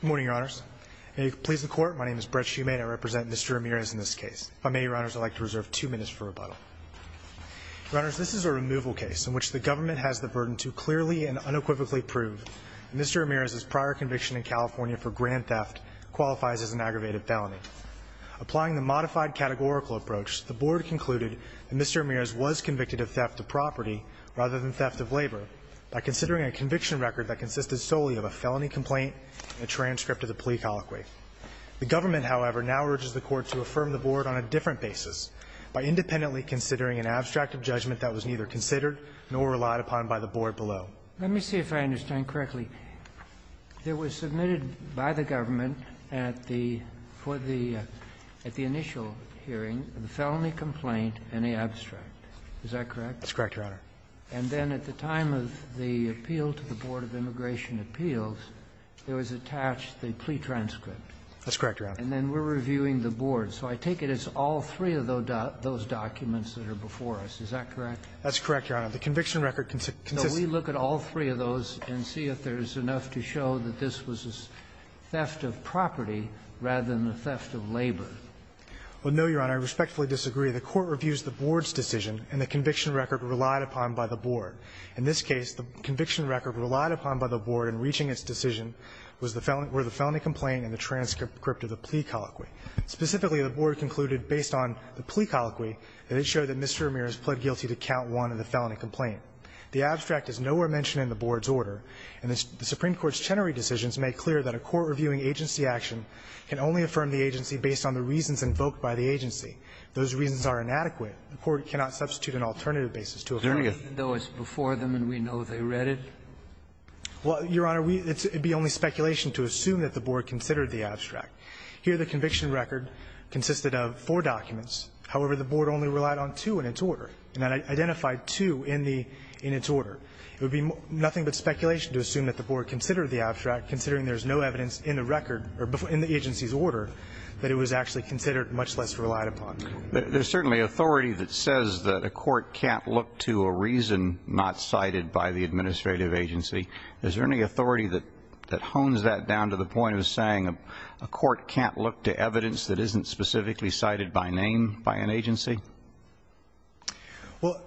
Good morning, Your Honors. May it please the Court, my name is Brett Shumate. I represent Mr. Ramirez in this case. If I may, Your Honors, I'd like to reserve two minutes for rebuttal. Your Honors, this is a removal case in which the government has the burden to clearly and unequivocally prove that Mr. Ramirez's prior conviction in California for grand theft qualifies as an aggravated felony. Applying the modified categorical approach, the Board concluded that Mr. Ramirez was convicted of theft of property rather than theft of labor by considering a conviction record that consisted solely of a felony complaint and a transcript of the plea colloquy. The government, however, now urges the Court to affirm the Board on a different basis by independently considering an abstract of judgment that was neither considered nor relied upon by the Board below. Let me see if I understand correctly. It was submitted by the government at the, for the, at the initial hearing, the felony complaint and the abstract. Is that correct? That's correct, Your Honor. And then at the time of the appeal to the Board of Immigration Appeals, there was attached the plea transcript. That's correct, Your Honor. And then we're reviewing the Board. So I take it it's all three of those documents that are before us. Is that correct? That's correct, Your Honor. The conviction record consists of the plea colloquy. Now, we look at all three of those and see if there's enough to show that this was a theft of property rather than a theft of labor. Well, no, Your Honor. I respectfully disagree. The Court reviews the Board's decision and the conviction record relied upon by the Board. In this case, the conviction record relied upon by the Board in reaching its decision was the felony, where the felony complaint and the transcript of the plea colloquy. Specifically, the Board concluded based on the plea colloquy that it showed that Mr. Vermeer has pled guilty to count one of the felony complaint. The abstract is nowhere mentioned in the Board's order, and the Supreme Court's Chenery decisions make clear that a court reviewing agency action can only affirm the agency based on the reasons invoked by the agency. Those reasons are inadequate. The Court cannot substitute an alternative basis to affirm it. Even though it's before them and we know they read it? Well, Your Honor, we – it would be only speculation to assume that the Board considered the abstract. Here, the conviction record consisted of four documents. However, the Board only relied on two in its order, and that identified two in the – in its order. It would be nothing but speculation to assume that the Board considered the abstract considering there's no evidence in the record or in the agency's order that it was actually considered, much less relied upon. There's certainly authority that says that a court can't look to a reason not cited by the administrative agency. Is there any authority that hones that down to the point of saying a court can't look to evidence that isn't specifically cited by name by an agency? Well,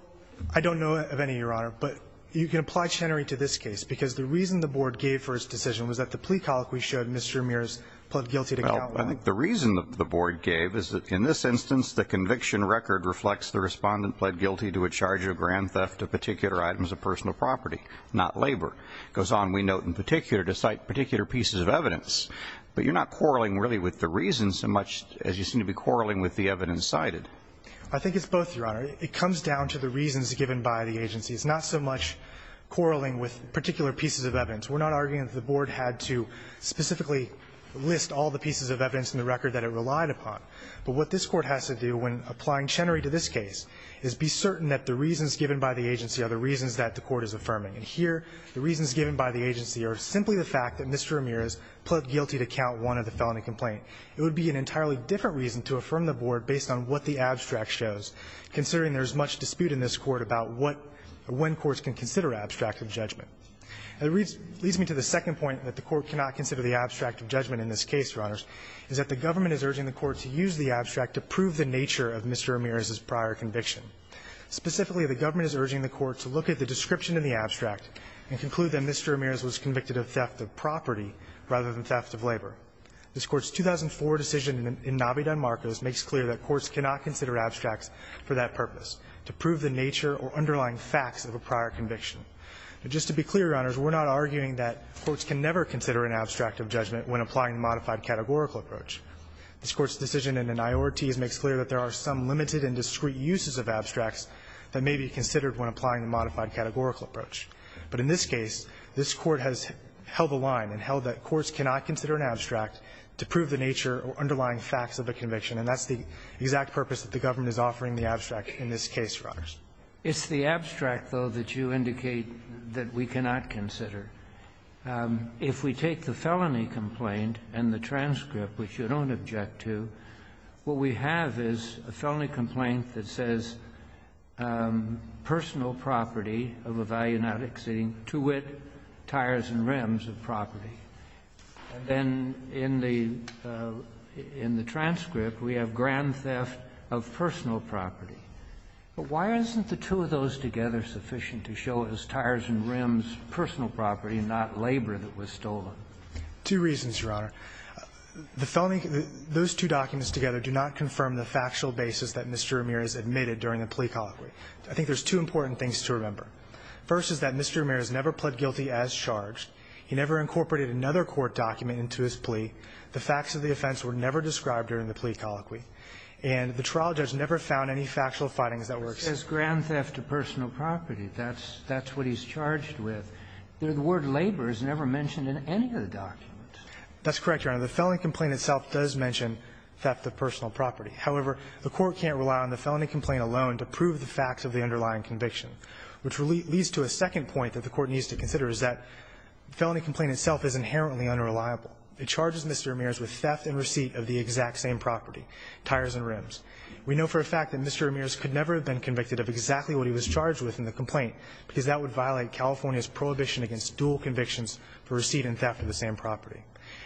I don't know of any, Your Honor. But you can apply Chenery to this case, because the reason the Board gave for its decision was that the plea colloquy showed Mr. Ramirez pled guilty to count – Well, I think the reason the Board gave is that in this instance, the conviction record reflects the respondent pled guilty to a charge of grand theft of particular items of personal property, not labor. It goes on, we note, in particular, to cite particular pieces of evidence. But you're not quarreling really with the reason so much as you seem to be quarreling with the evidence cited. I think it's both, Your Honor. It comes down to the reasons given by the agency. It's not so much quarreling with particular pieces of evidence. We're not arguing that the Board had to specifically list all the pieces of evidence in the record that it relied upon. But what this Court has to do when applying Chenery to this case is be certain that the reasons given by the agency are the reasons that the Court is affirming. And here, the reasons given by the agency are simply the fact that Mr. Ramirez pled guilty to count one of the felony complaint. It would be an entirely different reason to affirm the Board based on what the abstract shows, considering there is much dispute in this Court about what or when courts can consider abstract of judgment. And it leads me to the second point that the Court cannot consider the abstract of judgment in this case, Your Honors, is that the government is urging the Court to use the abstract to prove the nature of Mr. Ramirez's prior conviction. Specifically, the government is urging the Court to look at the description in the abstract and conclude that Mr. Ramirez was convicted of theft of property rather than theft of labor. This Court's 2004 decision in Navidad-Marcos makes clear that courts cannot consider abstracts for that purpose, to prove the nature or underlying facts of a prior conviction. Now, just to be clear, Your Honors, we're not arguing that courts can never consider an abstract of judgment when applying a modified categorical approach. This Court's decision in the Nayorities makes clear that there are some limited and discrete uses of abstracts that may be considered when applying a modified categorical approach. But in this case, this Court has held a line and held that courts cannot consider an abstract to prove the nature or underlying facts of a conviction, and that's the exact purpose that the government is offering the abstract in this case, Your Honors. It's the abstract, though, that you indicate that we cannot consider. If we take the felony complaint and the transcript, which you don't object to, what we have is a felony complaint that says personal property of a value not exceeding to wit, tires and rims of property. And then in the transcript, we have grand theft of personal property. But why isn't the two of those together sufficient to show it was tires and rims personal property and not labor that was stolen? Two reasons, Your Honor. The felony, those two documents together do not confirm the factual basis that Mr. Ramirez admitted during the plea colloquy. I think there's two important things to remember. First is that Mr. Ramirez never pled guilty as charged. He never incorporated another court document into his plea. The facts of the offense were never described during the plea colloquy. And the trial judge never found any factual findings that were said. It says grand theft of personal property. That's what he's charged with. The word labor is never mentioned in any of the documents. That's correct, Your Honor. The felony complaint itself does mention theft of personal property. However, the Court can't rely on the felony complaint alone to prove the facts of the underlying conviction, which leads to a second point that the Court needs to consider is that felony complaint itself is inherently unreliable. It charges Mr. Ramirez with theft and receipt of the exact same property, tires and rims. We know for a fact that Mr. Ramirez could never have been convicted of exactly what he was charged with in the complaint because that would violate California's prohibition against dual convictions for receipt and theft of the same property.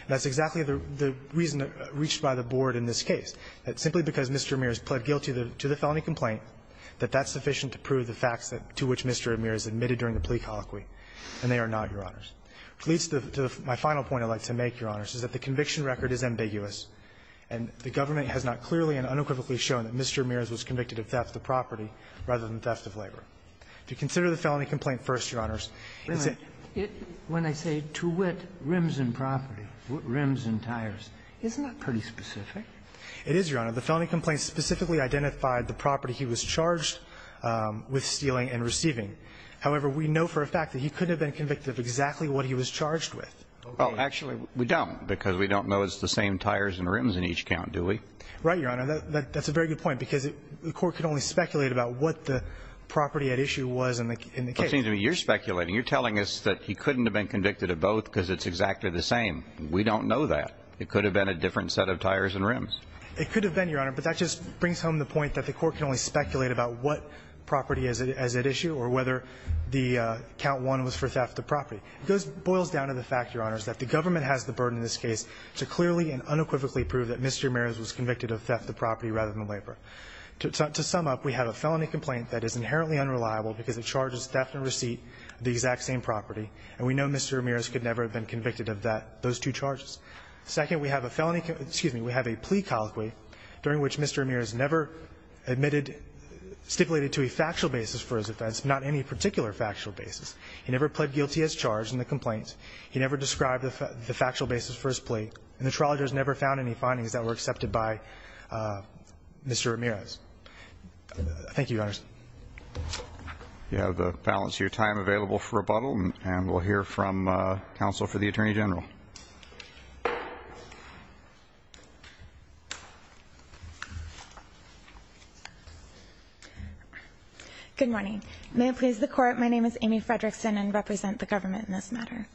That's exactly the reason reached by the Board in this case, that simply because Mr. Ramirez pled guilty to the felony complaint, that that's sufficient to prove the facts to which Mr. Ramirez admitted during the plea colloquy. And they are not, Your Honors. Which leads to my final point I'd like to make, Your Honors, is that the conviction record is ambiguous, and the government has not clearly and unequivocally shown that Mr. Ramirez was convicted of theft of property rather than theft of labor. To consider the felony complaint first, Your Honors, it's a ---- What rims and property? What rims and tires? Isn't that pretty specific? It is, Your Honor. The felony complaint specifically identified the property he was charged with stealing and receiving. However, we know for a fact that he couldn't have been convicted of exactly what he was charged with. Well, actually, we don't because we don't know it's the same tires and rims in each count, do we? Right, Your Honor. That's a very good point because the Court can only speculate about what the property at issue was in the case. Well, it seems to me you're speculating. You're telling us that he couldn't have been convicted of both because it's exactly the same. We don't know that. It could have been a different set of tires and rims. It could have been, Your Honor, but that just brings home the point that the Court can only speculate about what property is at issue or whether the count one was for theft of property. It just boils down to the fact, Your Honors, that the government has the burden in this case to clearly and unequivocally prove that Mr. Ramirez was convicted of theft of property rather than labor. To sum up, we have a felony complaint that is inherently unreliable because it charges theft and receipt of the exact same property, and we know Mr. Ramirez could never have been convicted of that, those two charges. Second, we have a felony conviction, excuse me, we have a plea colloquy during which Mr. Ramirez never admitted, stipulated to a factual basis for his offense, not any particular factual basis. He never pled guilty as charged in the complaint. He never described the factual basis for his plea. And the trial judge never found any findings that were accepted by Mr. Ramirez. Thank you, Your Honors. You have the balance of your time available for rebuttal, and we'll hear from Counsel for the Attorney General. Good morning. May it please the Court, my name is Amy Fredrickson and I represent the government in this matter.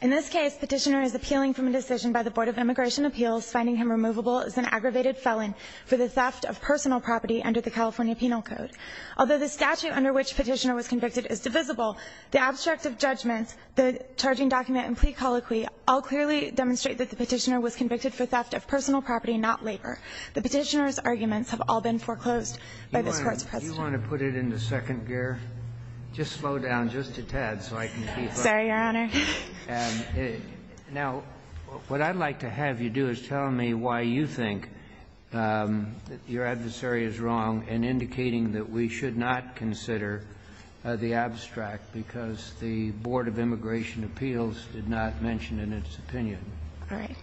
In this case, Petitioner is appealing from a decision by the Board of Immigration Appeals finding him removable as an aggravated felon for the theft of personal property under the California Penal Code. Although the statute under which Petitioner was convicted is divisible, the abstract of judgments, the charging document and plea colloquy all clearly demonstrate that the Petitioner was convicted for theft of personal property, not labor. The Petitioner's arguments have all been foreclosed by this Court's precedent. Do you want to put it into second gear? Just slow down just a tad so I can keep up. Sorry, Your Honor. Now, what I'd like to have you do is tell me why you think that your adversary is wrong in indicating that we should not consider the abstract because the Board of Immigration Appeals did not mention in its opinion. All right.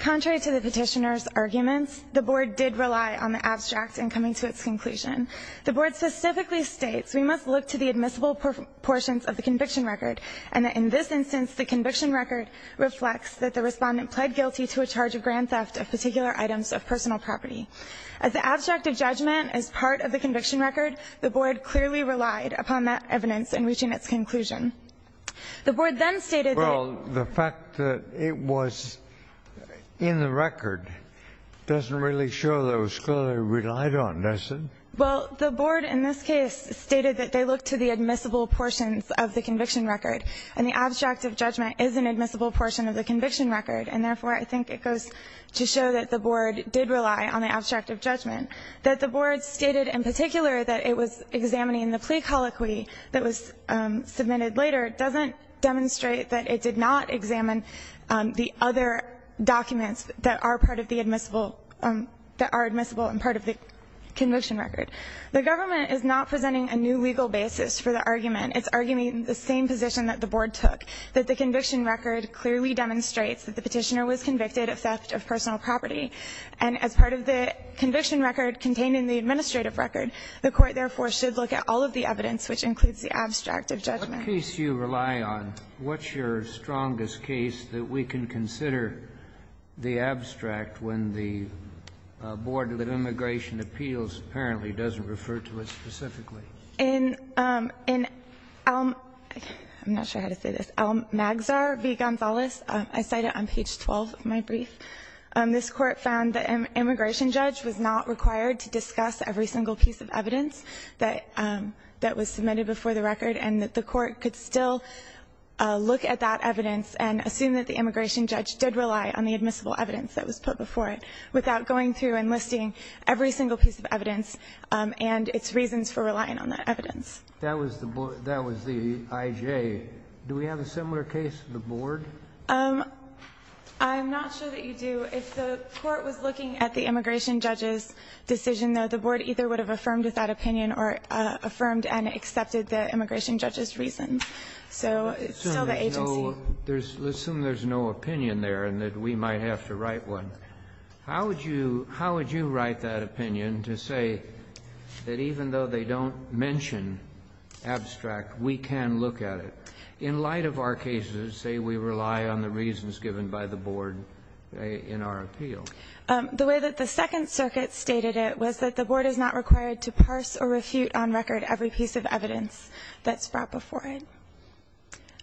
Contrary to the Petitioner's arguments, the Board did rely on the abstract in coming to its conclusion. The Board specifically states we must look to the admissible proportions of the conviction record, and that in this instance the conviction record reflects that the Respondent pled guilty to a charge of grand theft of particular items of personal property. As the abstract of judgment is part of the conviction record, the Board clearly relied upon that evidence in reaching its conclusion. The Board then stated that the fact that it was in the record doesn't really show that it was clearly relied on, does it? Well, the Board in this case stated that they looked to the admissible portions of the conviction record, and the abstract of judgment is an admissible portion of the conviction record. And therefore, I think it goes to show that the Board did rely on the abstract of judgment. That the Board stated in particular that it was examining the plea colloquy that was submitted later doesn't demonstrate that it did not examine the other documents that are part of the admissible, that are admissible and part of the conviction record. The government is not presenting a new legal basis for the argument. It's arguing the same position that the Board took, that the conviction record clearly demonstrates that the Petitioner was convicted of theft of personal property, and as part of the conviction record contained in the administrative record, the Court, therefore, should look at all of the evidence, which includes the abstract of judgment. What case do you rely on? What's your strongest case that we can consider the abstract when the Board of Immigration Appeals apparently doesn't refer to it specifically? I'm not sure how to say this. El Magsar v. Gonzalez. I cite it on page 12 of my brief. This Court found that an immigration judge was not required to discuss every single piece of evidence that was submitted before the record, and that the Court could still look at that evidence and assume that the immigration judge did rely on the admissible evidence that was put before it without going through and listing every single piece of evidence and its reasons for relying on that evidence. That was the IJ. Do we have a similar case to the Board? I'm not sure that you do. If the Court was looking at the immigration judge's decision, though, the Board either would have affirmed that opinion or affirmed and accepted the immigration judge's reasons. So it's still the agency. Let's assume there's no opinion there and that we might have to write one. But how would you write that opinion to say that even though they don't mention abstract, we can look at it? In light of our cases, say we rely on the reasons given by the Board in our appeal. The way that the Second Circuit stated it was that the Board is not required to parse or refute on record every piece of evidence that's brought before it.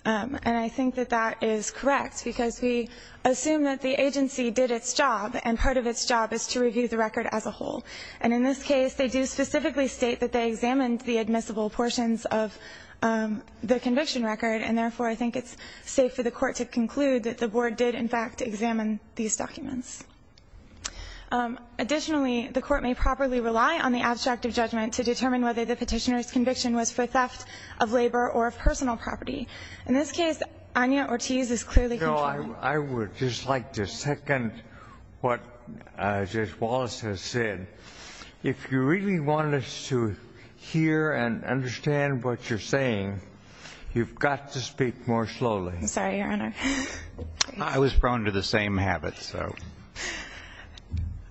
And I think that that is correct because we assume that the agency did its job, and part of its job is to review the record as a whole. And in this case, they do specifically state that they examined the admissible portions of the conviction record, and therefore I think it's safe for the Court to conclude that the Board did, in fact, examine these documents. Additionally, the Court may properly rely on the abstract of judgment to determine whether the petitioner's conviction was for theft of labor or of personal property. In this case, Anya Ortiz is clearly contrary. No, I would just like to second what Judge Wallace has said. If you really want us to hear and understand what you're saying, you've got to speak more slowly. Sorry, Your Honor. I was prone to the same habits, so.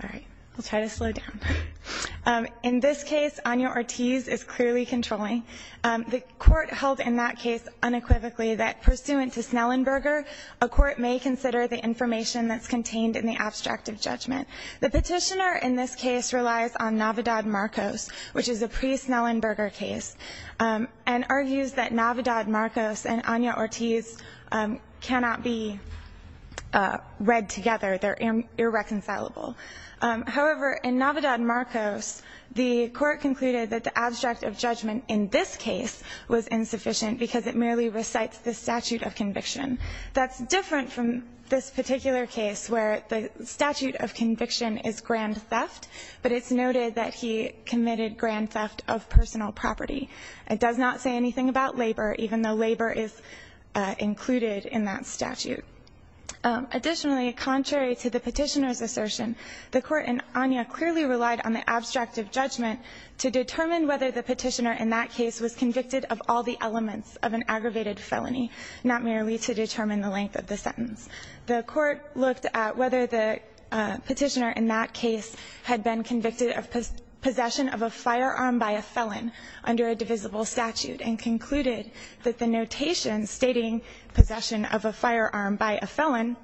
All right. We'll try to slow down. In this case, Anya Ortiz is clearly controlling. The Court held in that case unequivocally that pursuant to Snellenberger, a court may consider the information that's contained in the abstract of judgment. The petitioner in this case relies on Navidad-Marcos, which is a pre-Snellenberger case, and argues that Navidad-Marcos and Anya Ortiz cannot be read together. They're irreconcilable. However, in Navidad-Marcos, the Court concluded that the abstract of judgment in this case was insufficient because it merely recites the statute of conviction. That's different from this particular case where the statute of conviction is grand theft, but it's noted that he committed grand theft of personal property. It does not say anything about labor, even though labor is included in that statute. Additionally, contrary to the petitioner's assertion, the Court and Anya clearly relied on the abstract of judgment to determine whether the petitioner in that case was convicted of all the elements of an aggravated felony, not merely to determine the length of the sentence. The Court looked at whether the petitioner in that case had been convicted of possession of a firearm by a felon under a divisible statute, and concluded that the notation stating possession of a firearm by a felon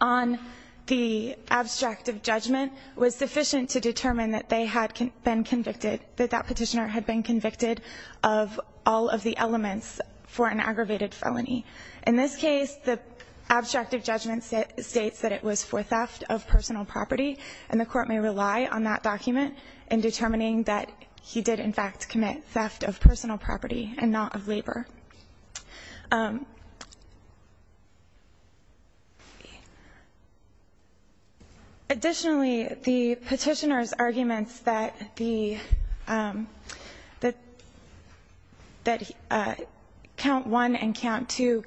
on the abstract of judgment was sufficient to determine that they had been convicted, that that petitioner had been convicted of all of the elements for an aggravated felony. In this case, the abstract of judgment states that it was for theft of personal property, and the Court may rely on that document in determining that he did in fact commit theft of personal property and not of labor. Additionally, the petitioner's arguments that the count one and count two,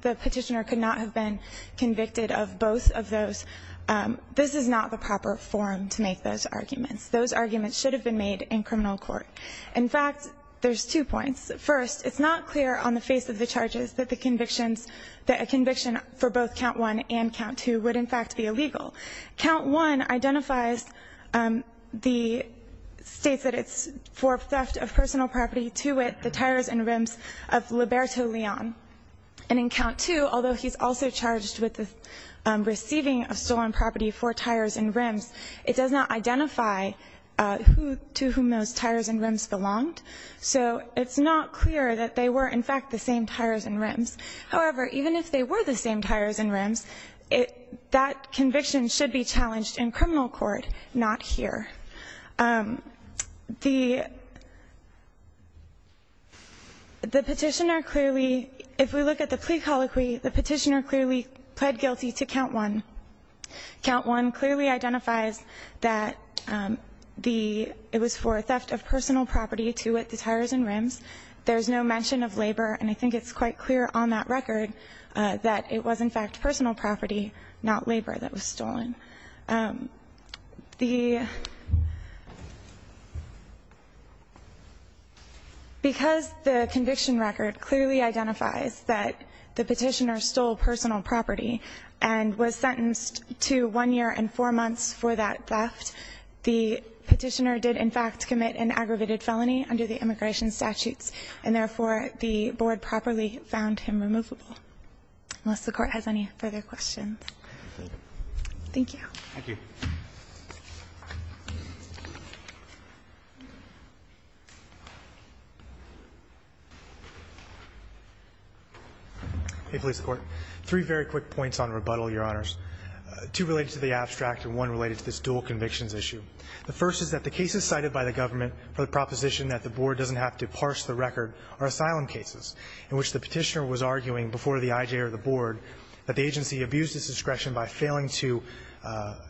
the petitioner could not have been convicted of both of those, this is not the proper forum to make those arguments. Those arguments should have been made in criminal court. In fact, there's two points. First, it's not clear on the face of the charges that the convictions, that a conviction for both count one and count two would in fact be illegal. Count one identifies the states that it's for theft of personal property to with the tires and rims of Liberto Leon. And in count two, although he's also charged with receiving a stolen property for tires and rims, it does not identify who, to whom those tires and rims belonged. So it's not clear that they were in fact the same tires and rims. However, even if they were the same tires and rims, that conviction should be challenged in criminal court, not here. The petitioner clearly, if we look at the plea colloquy, the petitioner clearly pled guilty to count one. Count one clearly identifies that the, it was for theft of personal property to with the tires and rims. There's no mention of labor. And I think it's quite clear on that record that it was in fact personal property, not labor that was stolen. The, because the conviction record clearly identifies that the petitioner stole personal property and was sentenced to one year and four months for that theft. The petitioner did in fact commit an aggravated felony under the immigration statutes, and therefore the board properly found him removable. Unless the Court has any further questions. Thank you. Thank you. Hey, police and court. Three very quick points on rebuttal, Your Honors. Two related to the abstract and one related to this dual convictions issue. The first is that the cases cited by the government for the proposition that the board doesn't have to parse the record are asylum cases in which the petitioner was arguing before the IJ or the board that the agency abused its discretion by failing to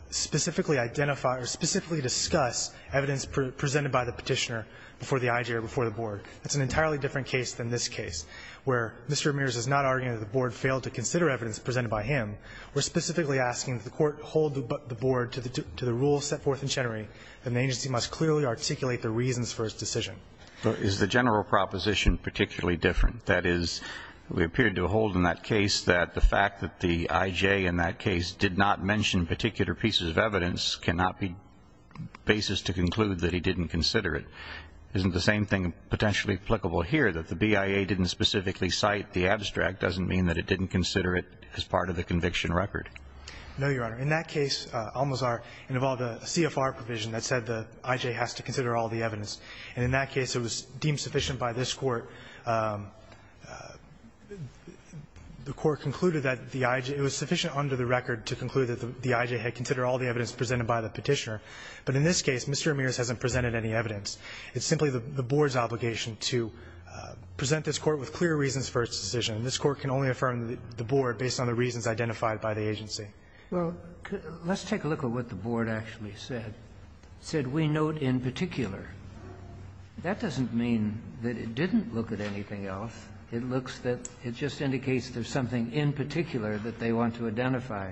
specifically identify or specifically discuss evidence presented by the petitioner before the IJ or before the board. That's an entirely different case than this case, where Mr. Ramirez is not arguing that the board failed to consider evidence presented by him. We're specifically asking that the Court hold the board to the rule set forth in Chenery that the agency must clearly articulate the reasons for its decision. Is the general proposition particularly different? That is, we appeared to hold in that case that the fact that the IJ in that case did not mention particular pieces of evidence cannot be basis to conclude that he didn't consider it. Isn't the same thing potentially applicable here, that the BIA didn't specifically cite the abstract doesn't mean that it didn't consider it as part of the conviction record? No, Your Honor. In that case, Almazar involved a CFR provision that said the IJ has to consider all the evidence. And in that case, it was deemed sufficient by this Court. The Court concluded that the IJ was sufficient under the record to conclude that the IJ had considered all the evidence presented by the Petitioner. But in this case, Mr. Ramirez hasn't presented any evidence. It's simply the board's obligation to present this Court with clear reasons for its decision. And this Court can only affirm the board based on the reasons identified by the agency. Well, let's take a look at what the board actually said. It said, we note in particular. That doesn't mean that it didn't look at anything else. It looks that it just indicates there's something in particular that they want to identify.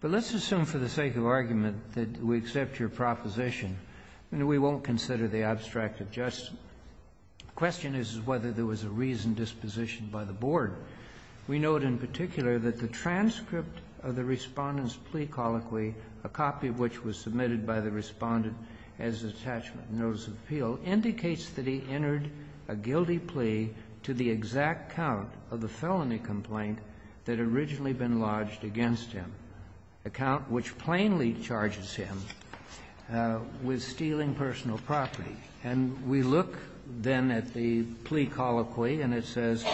But let's assume for the sake of argument that we accept your proposition. I mean, we won't consider the abstract of justice. The question is whether there was a reasoned disposition by the board. We note in particular that the transcript of the Respondent's plea colloquy, a copy of which was submitted by the Respondent as an attachment notice of appeal, indicates that he entered a guilty plea to the exact count of the felony complaint that had originally been lodged against him, a count which plainly charges him with stealing personal property. And we look, then, at the plea colloquy, and it says,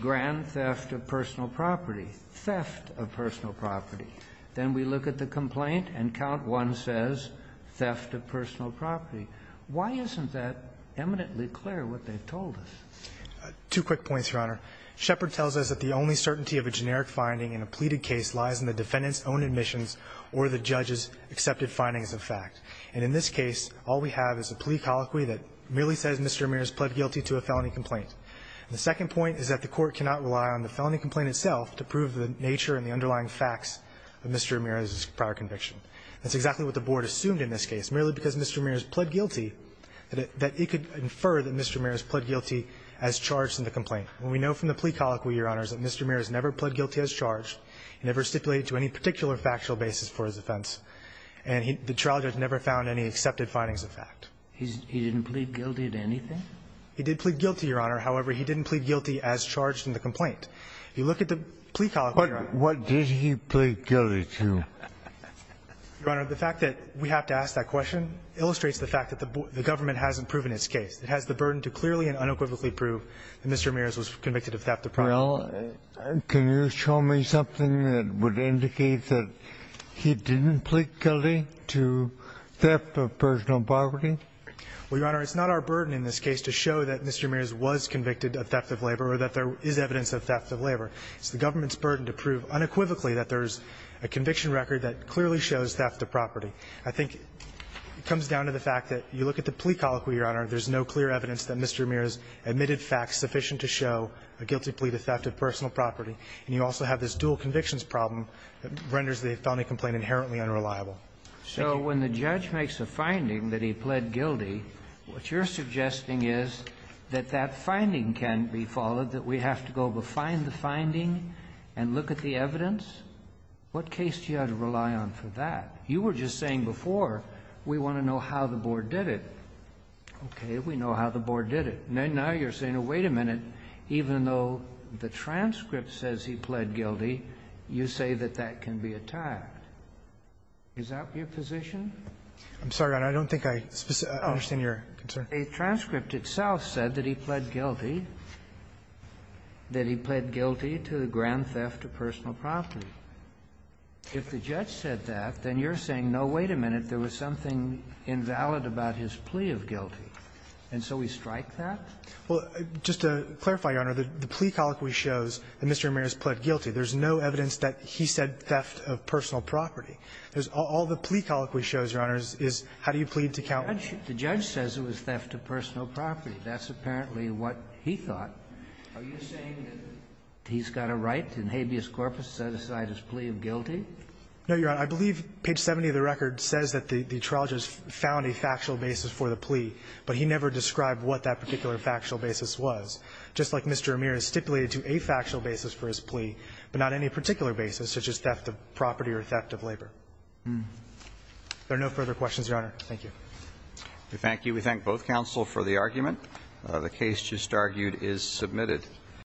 grand theft of personal property. Theft of personal property. Then we look at the complaint, and count 1 says theft of personal property. Why isn't that eminently clear, what they've told us? Two quick points, Your Honor. Shepherd tells us that the only certainty of a generic finding in a pleaded case lies in the defendant's own admissions or the judge's accepted findings of fact. And in this case, all we have is a plea colloquy that merely says Mr. Ramirez pled guilty to a felony complaint. The second point is that the Court cannot rely on the felony complaint itself to prove the nature and the underlying facts of Mr. Ramirez's prior conviction. That's exactly what the Board assumed in this case, merely because Mr. Ramirez pled guilty that it could infer that Mr. Ramirez pled guilty as charged in the complaint. And we know from the plea colloquy, Your Honor, that Mr. Ramirez never pled guilty as charged, never stipulated to any particular factual basis for his offense, and the trial judge never found any accepted findings of fact. He didn't plead guilty to anything? He did plead guilty, Your Honor. However, he didn't plead guilty as charged in the complaint. If you look at the plea colloquy, Your Honor. What did he plead guilty to? Your Honor, the fact that we have to ask that question illustrates the fact that the Government hasn't proven its case. It has the burden to clearly and unequivocally prove that Mr. Ramirez was convicted of theft of property. Well, can you show me something that would indicate that he didn't plead guilty to theft of personal property? Well, Your Honor, it's not our burden in this case to show that Mr. Ramirez was convicted of theft of labor or that there is evidence of theft of labor. It's the Government's burden to prove unequivocally that there's a conviction record that clearly shows theft of property. I think it comes down to the fact that you look at the plea colloquy, Your Honor, there's no clear evidence that Mr. Ramirez admitted facts sufficient to show a guilty plea to theft of personal property. And you also have this dual convictions problem that renders the felony complaint inherently unreliable. Thank you. So when the judge makes a finding that he pled guilty, what you're suggesting is that that finding can be followed, that we have to go find the finding and look at the evidence? What case do you have to rely on for that? You were just saying before we want to know how the board did it. Okay. We know how the board did it. Now you're saying, oh, wait a minute, even though the transcript says he pled guilty, you say that that can be attacked. Is that your position? I'm sorry, Your Honor. I don't think I understand your concern. A transcript itself said that he pled guilty, that he pled guilty to the grand theft of personal property. If the judge said that, then you're saying, no, wait a minute, there was something invalid about his plea of guilty. And so we strike that? Well, just to clarify, Your Honor, the plea colloquy shows that Mr. Ramirez pled guilty. There's no evidence that he said theft of personal property. All the plea colloquy shows, Your Honor, is how do you plead to countenance? The judge says it was theft of personal property. That's apparently what he thought. Are you saying that he's got a right in habeas corpus to set aside his plea of guilty? No, Your Honor. I believe page 70 of the record says that the trial judge found a factual basis for the plea, but he never described what that particular factual basis was. Just like Mr. Ramirez stipulated to a factual basis for his plea, but not any particular basis, such as theft of property or theft of labor. There are no further questions, Your Honor. Thank you. We thank you. We thank both counsel for the argument. The case just argued is submitted.